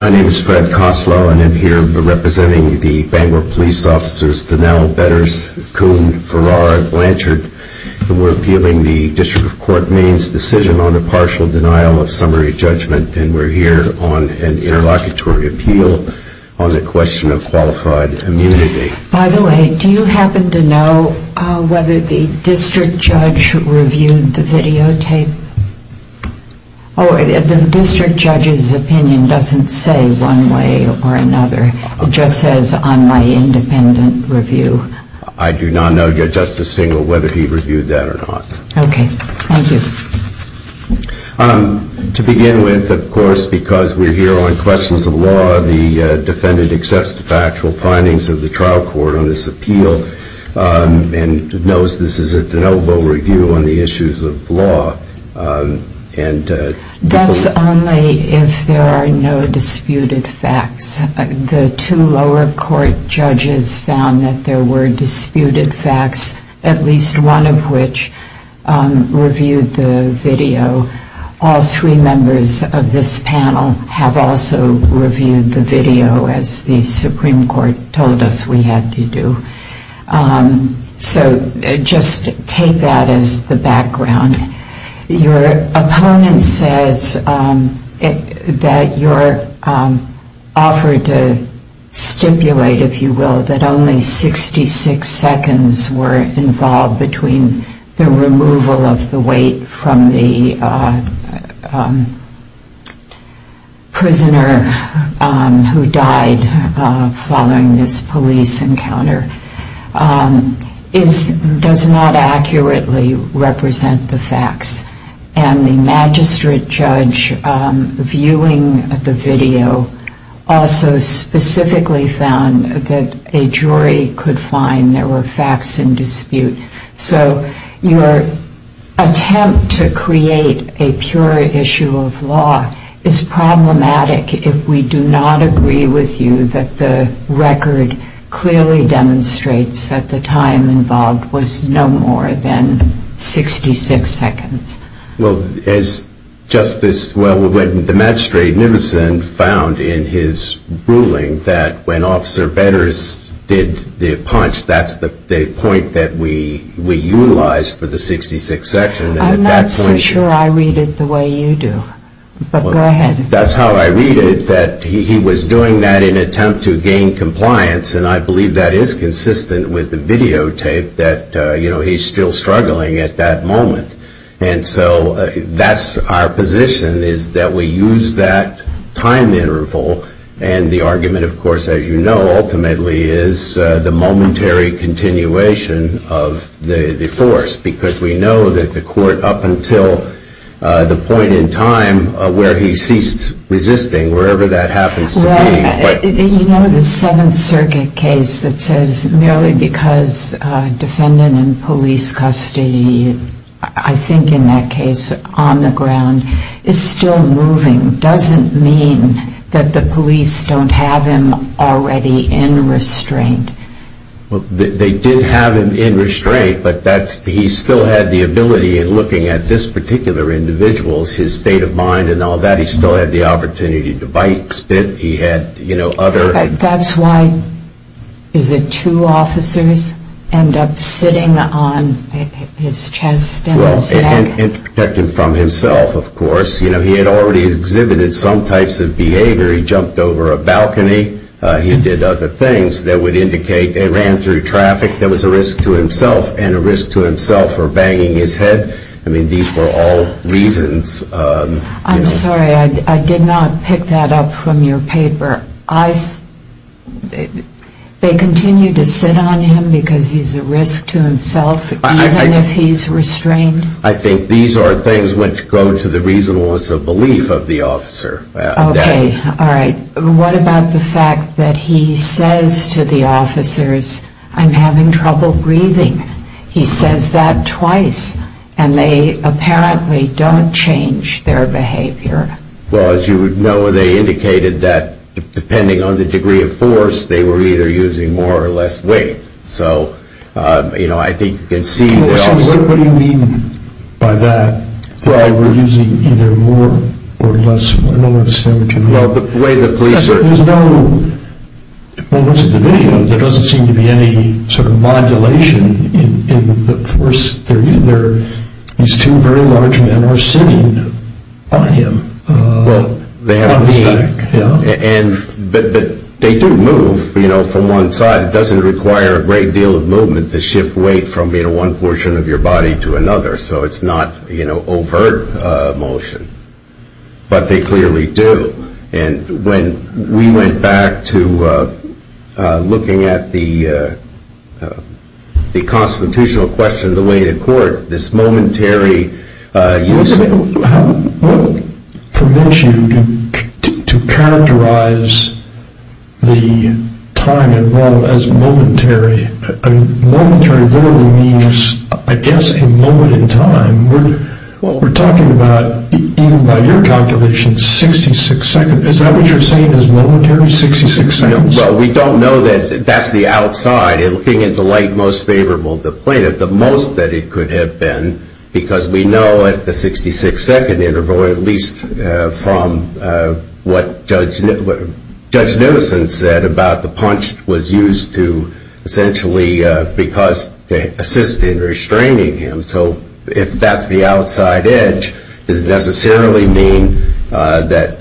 My name is Fred Koslow and I'm here representing the Bangor police officers Donnell, Betters, Coon, Farrar, Blanchard. We're appealing the District of Court Maine's decision on the partial denial of summary judgment and we're here on an interlocutory appeal on the question of qualified immunity. By the way, do you happen to know whether the district judge reviewed the videotape? Oh, the district judge's opinion doesn't say one way or another. It just says on my independent review. I do not know, Justice Singel, whether he reviewed that or not. Okay, thank you. To begin with, of course, because we're here on questions of law, the defendant accepts the factual findings of the trial court on this appeal and knows this is a de novo review on the issues of law. That's only if there are no disputed facts. The two lower court judges found that there were disputed facts, at least one of which reviewed the video. All three members of this panel have also reviewed the video as the Supreme Court told us we had to do. So just take that as the background. Your opponent says that you're offered to stipulate, if you will, that only 66 seconds were involved between the removal of the weight from the prisoner who died following this police encounter. It does not accurately represent the facts. And the magistrate judge viewing the video also specifically found that a jury could find there were facts in dispute. So your attempt to create a pure issue of law is problematic if we do not agree with you that the record clearly demonstrates that the time involved was no more than 66 seconds. Well, the magistrate found in his ruling that when Officer Vedders did the punch, that's the point that we utilized for the 66 seconds. I'm not so sure I read it the way you do, but go ahead. That's how I read it, that he was doing that in an attempt to gain compliance, and I believe that is consistent with the videotape, that he's still struggling at that moment. And so that's our position, is that we use that time interval, and the argument, of course, as you know, ultimately is the momentary continuation of the force, because we know that the court up until the point in time where he ceased resisting, wherever that happens to be. You know the Seventh Circuit case that says merely because a defendant in police custody, I think in that case, on the ground, is still moving, doesn't mean that the police don't have him already in restraint. Well, they did have him in restraint, but he still had the ability in looking at this particular individual, his state of mind and all that, he still had the opportunity to bite, spit, he had other... But that's why, is it two officers end up sitting on his chest and his neck? And protect him from himself, of course. You know, he had already exhibited some types of behavior. He jumped over a balcony, he did other things that would indicate he ran through traffic that was a risk to himself, and a risk to himself for banging his head. I mean, these were all reasons. I'm sorry, I did not pick that up from your paper. They continue to sit on him because he's a risk to himself, even if he's restrained? I think these are things which go to the reasonableness of belief of the officer. Okay, all right. What about the fact that he says to the officers, I'm having trouble breathing? He says that twice, and they apparently don't change their behavior. Well, as you would know, they indicated that depending on the degree of force, they were either using more or less weight. So, you know, I think you can see... What do you mean by that, that they were using either more or less weight? I don't understand what you mean. Well, the way the police... I mean, there's no... Well, most of the video, there doesn't seem to be any sort of modulation in the force. They're either... These two very large men are sitting on him. Well, they have a stack. But they do move, you know, from one side. It doesn't require a great deal of movement to shift weight from being one portion of your body to another. So it's not, you know, overt motion. But they clearly do. And when we went back to looking at the constitutional question, the way the court, this momentary use... What would permit you to characterize the time involved as momentary? I mean, momentary literally means, I guess, a moment in time. What we're talking about, even by your calculation, is 66 seconds. Is that what you're saying is momentary, 66 seconds? Well, we don't know that. That's the outside. Looking at the light most favorable to the plaintiff, the most that it could have been, because we know at the 66-second interval, at least from what Judge Nielsen said, about the punch was used to essentially assist in restraining him. So if that's the outside edge, it doesn't necessarily mean that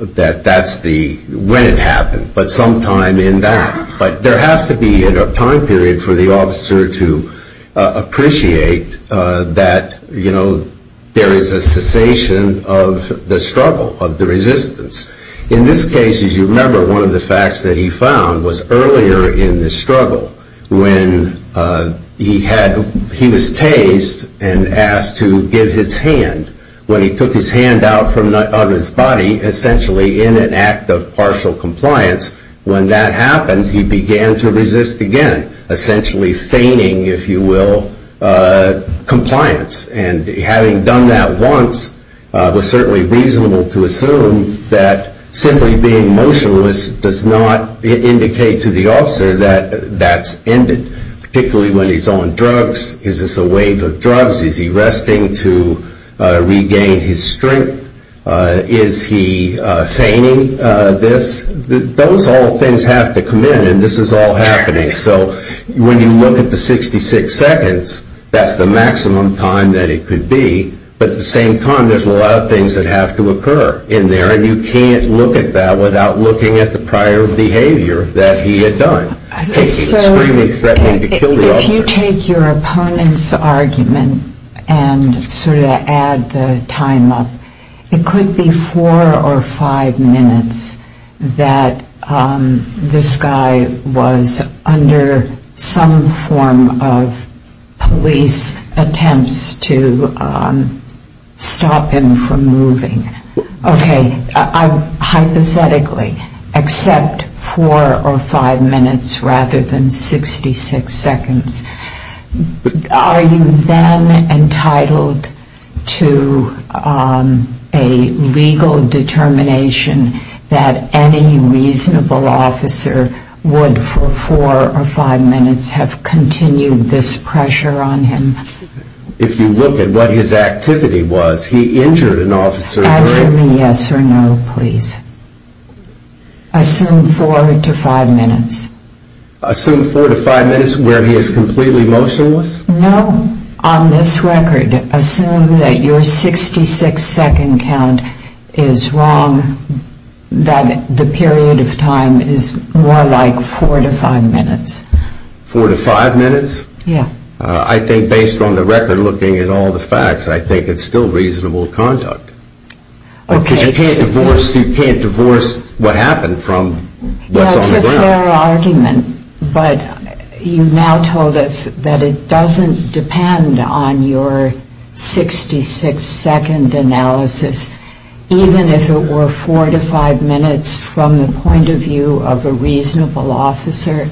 that's when it happened, but sometime in that. But there has to be a time period for the officer to appreciate that, you know, there is a cessation of the struggle, of the resistance. In this case, as you remember, one of the facts that he found was earlier in the struggle, when he was tased and asked to give his hand. When he took his hand out of his body, essentially in an act of partial compliance, when that happened, he began to resist again, essentially feigning, if you will, compliance. And having done that once, it was certainly reasonable to assume that simply being motionless does not indicate to the officer that that's ended, particularly when he's on drugs. Is this a wave of drugs? Is he resting to regain his strength? Is he feigning this? Those all things have to come in, and this is all happening. So when you look at the 66 seconds, that's the maximum time that it could be. But at the same time, there's a lot of things that have to occur in there, and you can't look at that without looking at the prior behavior that he had done. So if you take your opponent's argument and sort of add the time up, it could be four or five minutes that this guy was under some form of police attempts to stop him from moving. Okay. Hypothetically, except four or five minutes rather than 66 seconds, are you then entitled to a legal determination that any reasonable officer would, for four or five minutes, have continued this pressure on him? If you look at what his activity was, he injured an officer. Answer me yes or no, please. Assume four to five minutes. Assume four to five minutes where he is completely motionless? No. On this record, assume that your 66-second count is wrong, that the period of time is more like four to five minutes. Four to five minutes? Yeah. I think based on the record, looking at all the facts, I think it's still reasonable conduct. Okay. Because you can't divorce what happened from what's on the ground. That's a fair argument, but you now told us that it doesn't depend on your 66-second analysis. Even if it were four to five minutes from the point of view of a reasonable officer,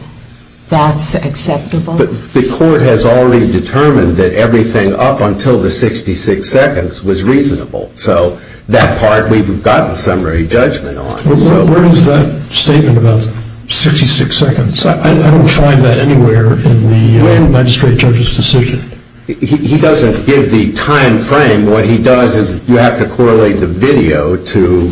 that's acceptable? The court has already determined that everything up until the 66 seconds was reasonable, so that part we've gotten summary judgment on. Where is that statement about 66 seconds? I don't find that anywhere in the magistrate judge's decision. He doesn't give the time frame. What he does is you have to correlate the video to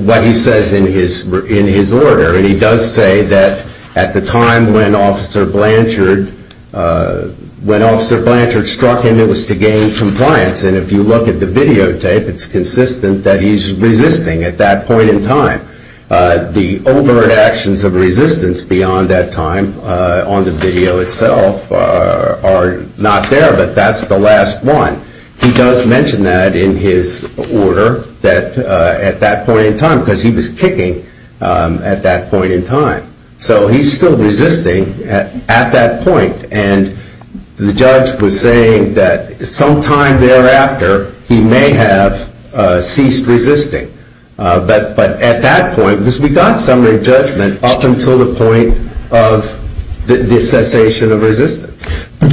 what he says in his order, and he does say that at the time when Officer Blanchard struck him, it was to gain compliance, and if you look at the videotape, it's consistent that he's resisting at that point in time. The overt actions of resistance beyond that time on the video itself are not there, but that's the last one. He does mention that in his order at that point in time because he was kicking at that point in time. So he's still resisting at that point, and the judge was saying that sometime thereafter he may have ceased resisting. But at that point, because we got summary judgment up until the point of the cessation of resistance.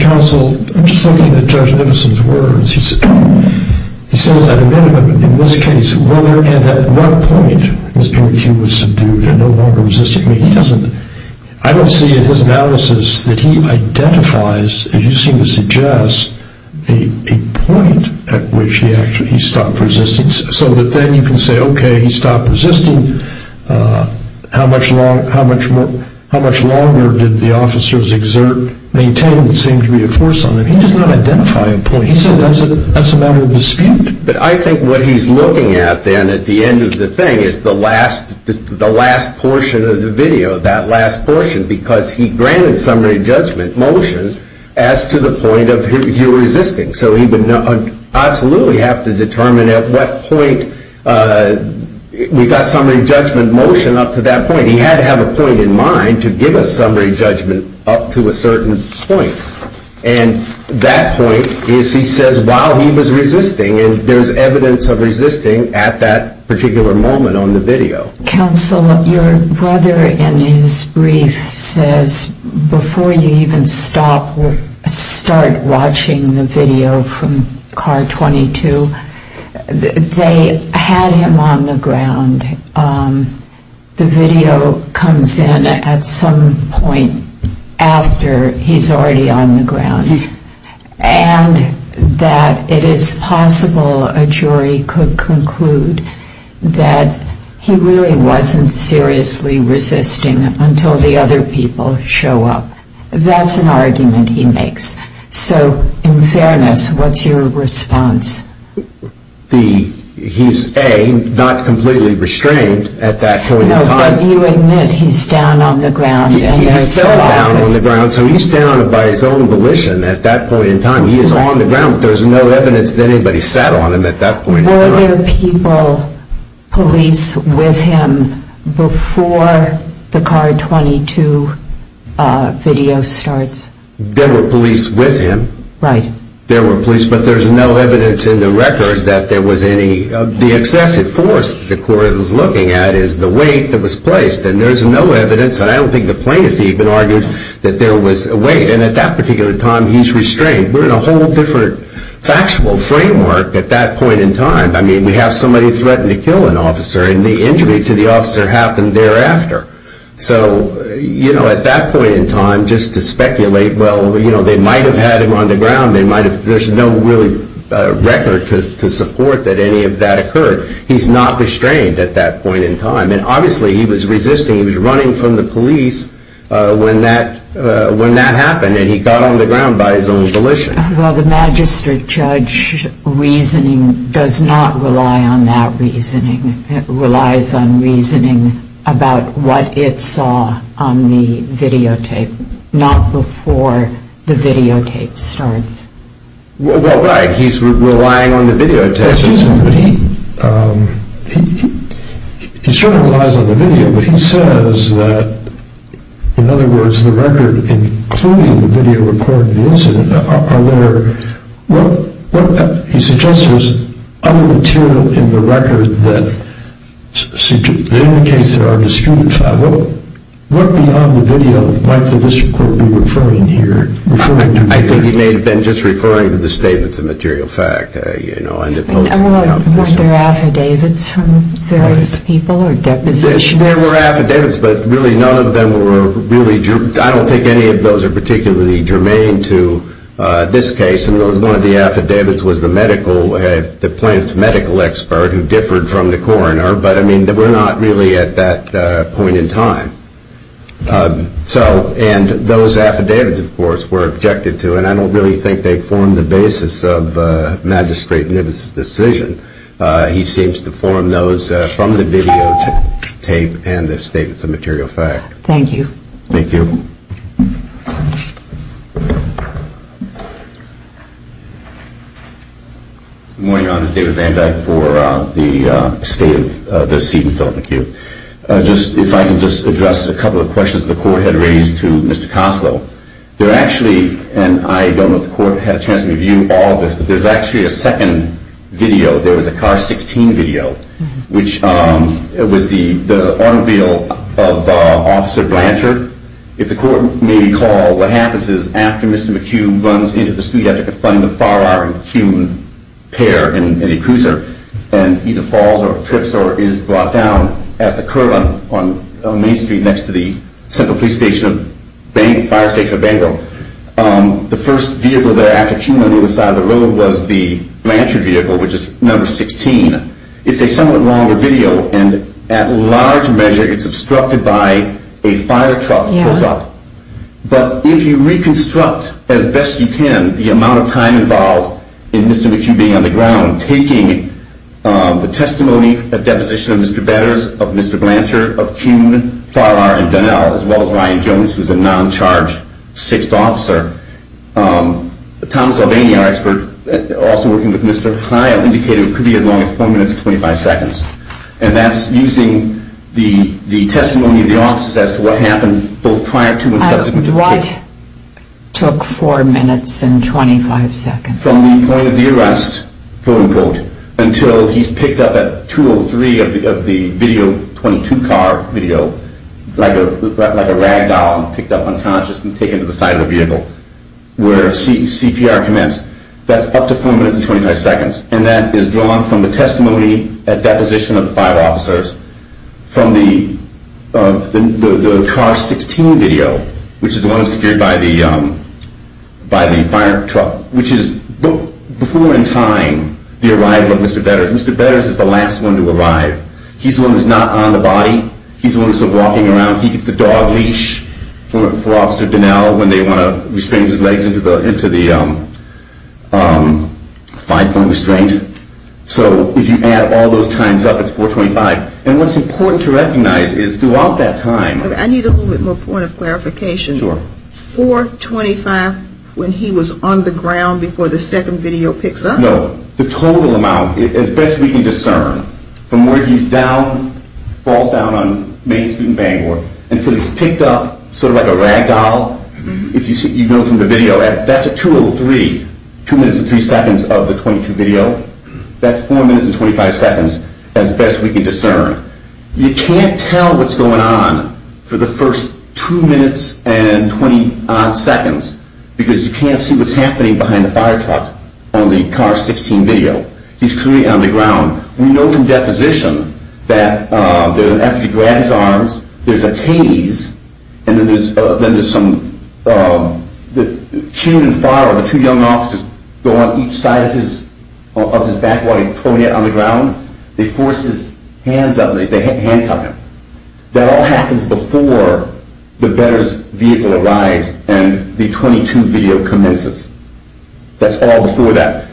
Counsel, I'm just looking at Judge Nimison's words. He says, at a minimum, in this case, whether and at what point he was subdued and no longer resisting. I don't see in his analysis that he identifies, as you seem to suggest, a point at which he stopped resisting, so that then you can say, okay, he stopped resisting. How much longer did the officers exert, maintain what seemed to be a force on him? He does not identify a point. He says that's a matter of dispute. But I think what he's looking at then at the end of the thing is the last portion of the video, that last portion, because he granted summary judgment motion as to the point of him resisting. So he would absolutely have to determine at what point we got summary judgment motion up to that point. He had to have a point in mind to give a summary judgment up to a certain point. And that point is, he says, while he was resisting. And there's evidence of resisting at that particular moment on the video. Counsel, your brother in his brief says, before you even start watching the video from car 22, they had him on the ground. The video comes in at some point after he's already on the ground. And that it is possible a jury could conclude that he really wasn't seriously resisting until the other people show up. That's an argument he makes. So in fairness, what's your response? He's, A, not completely restrained at that point in time. No, but you admit he's down on the ground. So he's down by his own volition at that point in time. He is on the ground. There's no evidence that anybody sat on him at that point in time. Were there people, police, with him before the car 22 video starts? There were police with him. Right. There were police, but there's no evidence in the record that there was any. The excessive force the court was looking at is the weight that was placed. And there's no evidence, and I don't think the plaintiff even argued that there was a weight. And at that particular time, he's restrained. We're in a whole different factual framework at that point in time. I mean, we have somebody threaten to kill an officer, and the injury to the officer happened thereafter. So, you know, at that point in time, just to speculate, well, you know, they might have had him on the ground. There's no really record to support that any of that occurred. He's not restrained at that point in time. And obviously, he was resisting. He was running from the police when that happened, and he got on the ground by his own volition. Well, the magistrate judge's reasoning does not rely on that reasoning. It relies on reasoning about what it saw on the videotape, not before the videotape starts. Well, right. He's relying on the videotape. Excuse me, but he certainly relies on the video, but he says that, in other words, the record, including the video recording of the incident, are there, what he suggests is, other material in the record that indicates there are disputed facts. What beyond the video might the district court be referring here? I think he may have been just referring to the statements of material fact, you know, and the posts of the accusations. Weren't there affidavits from various people or depositions? There were affidavits, but really none of them were really, I don't think any of those are particularly germane to this case. I mean, one of the affidavits was the medical, the plaintiff's medical expert who differed from the coroner, but, I mean, we're not really at that point in time. So, and those affidavits, of course, were objected to, and I don't really think they form the basis of Magistrate Nibbett's decision. He seems to form those from the videotape and the statements of material fact. Thank you. Thank you. Good morning, Your Honor. David Van Dyke for the State of the Seaton Film Acute. Just, if I can just address a couple of questions the court had raised to Mr. Coslow. There actually, and I don't know if the court had a chance to review all of this, but there's actually a second video. There was a car 16 video, which was the automobile of Officer Blanchard. If the court may recall, what happens is after Mr. McHugh runs into the street, and he's actually in front of the Farrar and Kuhn pair in a cruiser, and either falls or trips or is brought down at the curb on Main Street next to the Central Police Station of Bangor, Fire Station of Bangor, the first vehicle there after Kuhn on either side of the road was the Blanchard vehicle, which is number 16. It's a somewhat longer video, and at large measure, it's obstructed by a fire truck. But if you reconstruct as best you can the amount of time involved in Mr. McHugh being on the ground, taking the testimony of deposition of Mr. Bedders, of Mr. Blanchard, of Kuhn, Farrar, and Dunnell, as well as Ryan Jones, who's a non-charged 6th officer, Thomas Albany, our expert, also working with Mr. Hile, indicated it could be as long as 4 minutes and 25 seconds. And that's using the testimony of the officers as to what happened both prior to and subsequent to the case. What took 4 minutes and 25 seconds? From the point of the arrest, quote-unquote, until he's picked up at 203 of the video, 22-car video, like a rag doll picked up unconscious and taken to the side of the vehicle where CPR commenced. That's up to 4 minutes and 25 seconds. And that is drawn from the testimony at deposition of the 5 officers from the car 16 video, which is the one obscured by the fire truck, which is before in time the arrival of Mr. Bedders. Mr. Bedders is the last one to arrive. He's the one who's not on the body. He's the one who's walking around. He gets the dog leash for Officer Donnell when they want to restrain his legs into the five-point restraint. So if you add all those times up, it's 425. And what's important to recognize is throughout that time. I need a little bit more point of clarification. Sure. 425 when he was on the ground before the second video picks up? No. The total amount, as best we can discern, from where he's down, falls down on Main Street in Bangor, until he's picked up sort of like a rag doll. If you know from the video, that's a 203, 2 minutes and 3 seconds of the 22 video. That's 4 minutes and 25 seconds as best we can discern. You can't tell what's going on for the first 2 minutes and 20-odd seconds because you can't see what's happening behind the fire truck on the car 16 video. He's clearly on the ground. We know from deposition that after he grabbed his arms, there's a tase, and then there's some cue and fire of the two young officers going on each side of his back while he's pulling out on the ground. They force his hands up. They handcuff him. That all happens before the veteran's vehicle arrives and the 22 video commences. That's all before that.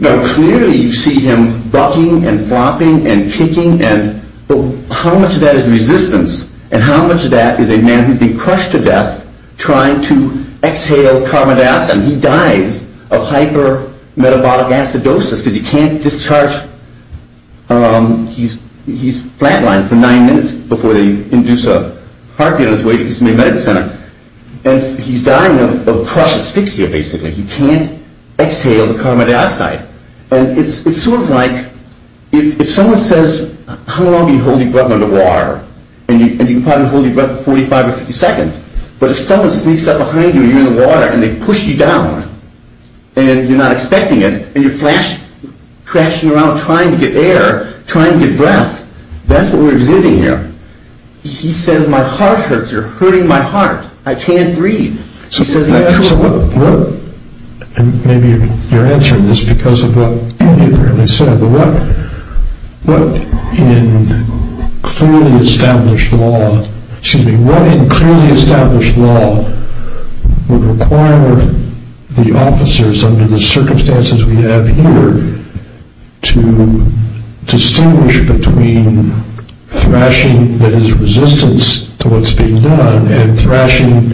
Now clearly you see him bucking and flopping and kicking. How much of that is resistance? And how much of that is a man who's been crushed to death trying to exhale carbon dioxide? He dies of hyper-metabolic acidosis because he can't discharge. He's flatlined for 9 minutes before they induce a heartbeat on his way to his main medical center. He's dying of crushed asphyxia basically. He can't exhale the carbon dioxide. It's sort of like if someone says, how long do you hold your breath under water? You can probably hold your breath for 45 or 50 seconds. But if someone sneaks up behind you and you're in the water and they push you down and you're not expecting it and you're crashing around trying to get air, trying to get breath, that's what we're exhibiting here. He says, my heart hurts. You're hurting my heart. I can't breathe. Maybe you're answering this because of what Andy apparently said. But what in clearly established law would require the officers under the circumstances we have here to distinguish between thrashing that is resistance to what's being done and thrashing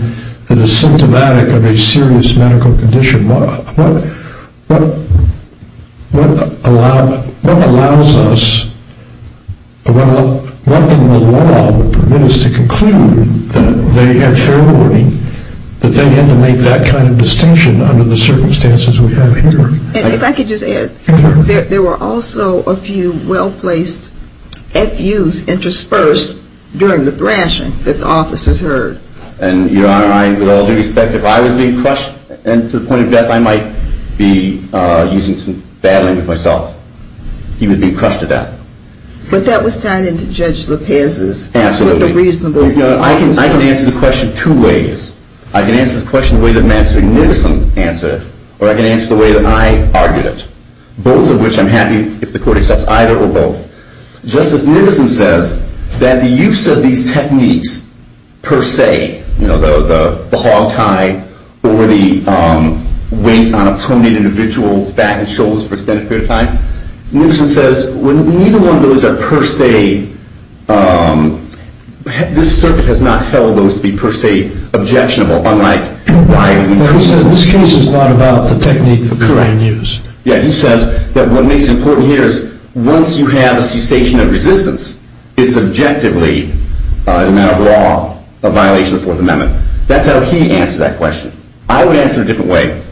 that is symptomatic of a serious medical condition? What allows us, what in the law would permit us to conclude that they had fair warning, that they had to make that kind of distinction under the circumstances we have here? If I could just add, there were also a few well-placed FUs interspersed during the thrashing that the officers heard. And, Your Honor, I, with all due respect, if I was being crushed to the point of death, I might be using some bad language myself. He was being crushed to death. But that was tied into Judge Lopez's. Absolutely. Put the reasonable. I can answer the question two ways. I can answer the question the way that Mr. Nicholson answered it. Or I can answer the way that I argued it. Both of which I'm happy if the court accepts either or both. Justice Nicholson says that the use of these techniques per se, you know, the hog tie or the wink on a prominent individual's back and shoulders for spending a period of time, Nicholson says when neither one of those are per se, this circuit has not held those to be per se objectionable, unlike Ryan. This case is a lot about the technique that Ryan used. Yeah. And he says that what makes it important here is once you have a cessation of resistance, it's subjectively, in a matter of law, a violation of the Fourth Amendment. That's how he answered that question. I would answer it a different way,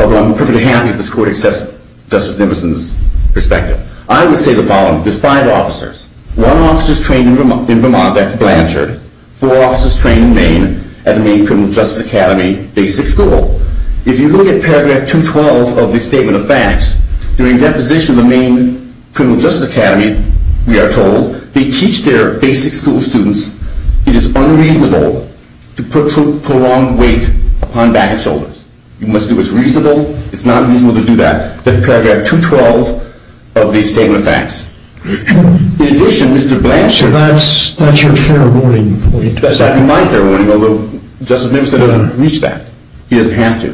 although I'm perfectly happy if this court accepts Justice Nicholson's perspective. I would say the following. There's five officers. One officer's trained in Vermont. That's Blanchard. Four officers trained in Maine at the Maine Criminal Justice Academy Basic School. If you look at Paragraph 212 of the Statement of Facts, during deposition of the Maine Criminal Justice Academy, we are told, they teach their basic school students it is unreasonable to put prolonged weight upon back and shoulders. You must do what's reasonable. It's not reasonable to do that. That's Paragraph 212 of the Statement of Facts. In addition, Mr. Blanchard. That's your fair warning point. That's my fair warning, although Justice Nicholson doesn't reach that. He doesn't have to.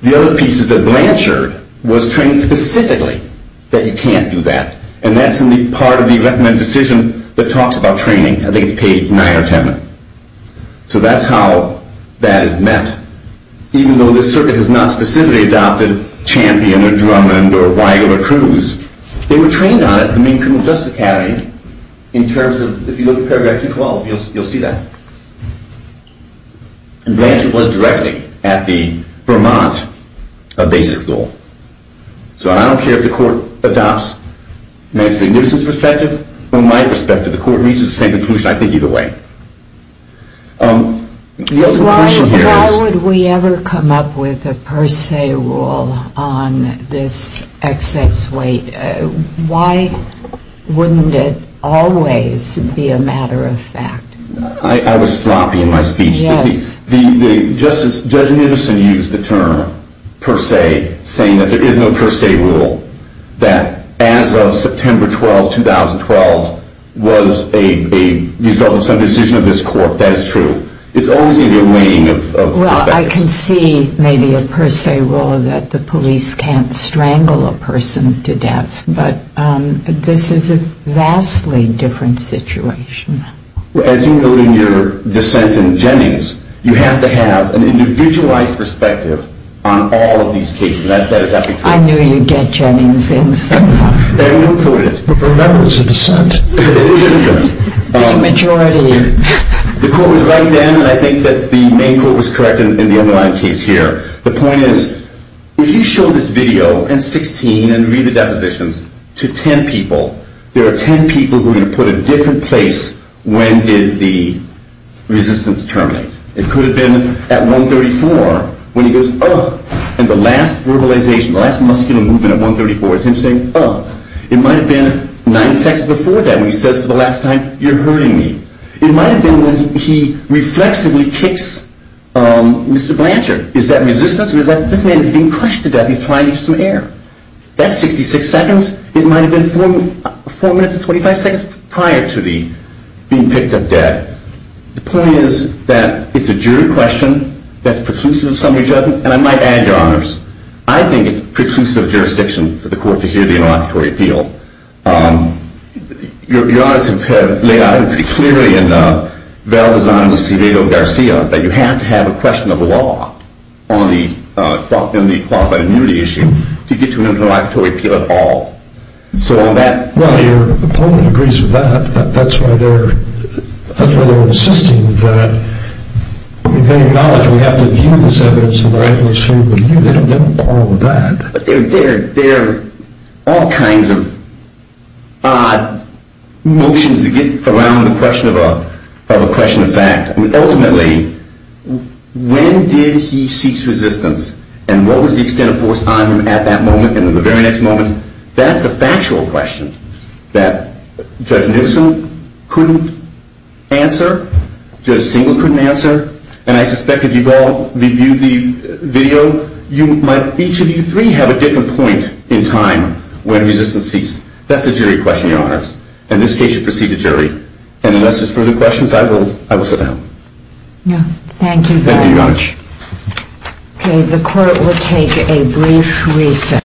The other piece is that Blanchard was trained specifically that you can't do that. And that's in the part of the recommended decision that talks about training. I think it's page 9 or 10. So that's how that is met. Even though this circuit has not specifically adopted Champion or Drummond or Weigel or Cruz, they were trained on it at the Maine Criminal Justice Academy in terms of, if you look at Paragraph 212, you'll see that. Blanchard was directing at the Vermont Basic Rule. So I don't care if the Court adopts Mr. Nicholson's perspective or my perspective. The Court reaches the same conclusion, I think, either way. The other question here is... Why would we ever come up with a per se rule on this excess weight? Why wouldn't it always be a matter of fact? I was sloppy in my speech. Judge Nicholson used the term per se, saying that there is no per se rule, that as of September 12, 2012 was a result of some decision of this Court. That is true. It's always going to be a weighing of perspective. Well, I can see maybe a per se rule that the police can't strangle a person to death. But this is a vastly different situation. Well, as you note in your dissent in Jennings, you have to have an individualized perspective on all of these cases. I knew you'd get Jennings in somehow. But remember, it's a dissent. It is a dissent. The majority... The Court was right then, and I think that the Maine Court was correct in the underlying case here. The point is, if you show this video in 16 and read the depositions to 10 people, there are 10 people who are going to put it in a different place when did the resistance terminate. It could have been at 134 when he goes, uh. And the last verbalization, the last muscular movement at 134 is him saying, uh. It might have been nine seconds before that when he says for the last time, you're hurting me. It might have been when he reflexively kicks Mr. Blanchard. Is that resistance? Or is that, this man is being crushed to death. He's trying to get some air. That's 66 seconds. It might have been four minutes and 25 seconds prior to the being picked up dead. The point is that it's a jury question that's preclusive of summary judgment. And I might add, Your Honors, I think it's preclusive of jurisdiction for the Court to hear the interlocutory appeal. Your Honors have laid out pretty clearly in Valdezano-Garcia that you have to have a question of law on the qualified immunity issue to get to an interlocutory appeal at all. So on that. Well, your opponent agrees with that. That's why they're, that's why they're insisting that they acknowledge we have to view this evidence in the right way so we can view it. They don't quarrel with that. There are all kinds of odd motions that get around the question of a, of a question of fact. Ultimately, when did he cease resistance? And what was the extent of force on him at that moment and in the very next moment? That's a factual question that Judge Newsom couldn't answer. Judge Singleton couldn't answer. And I suspect if you've all reviewed the video, you might, each of you three have a different point in time when resistance ceased. That's a jury question, Your Honors. In this case, you proceed to jury. And unless there's further questions, I will, I will sit down. Yeah. Thank you very much. Thank you, Your Honors. Okay. The court will take a brief recess.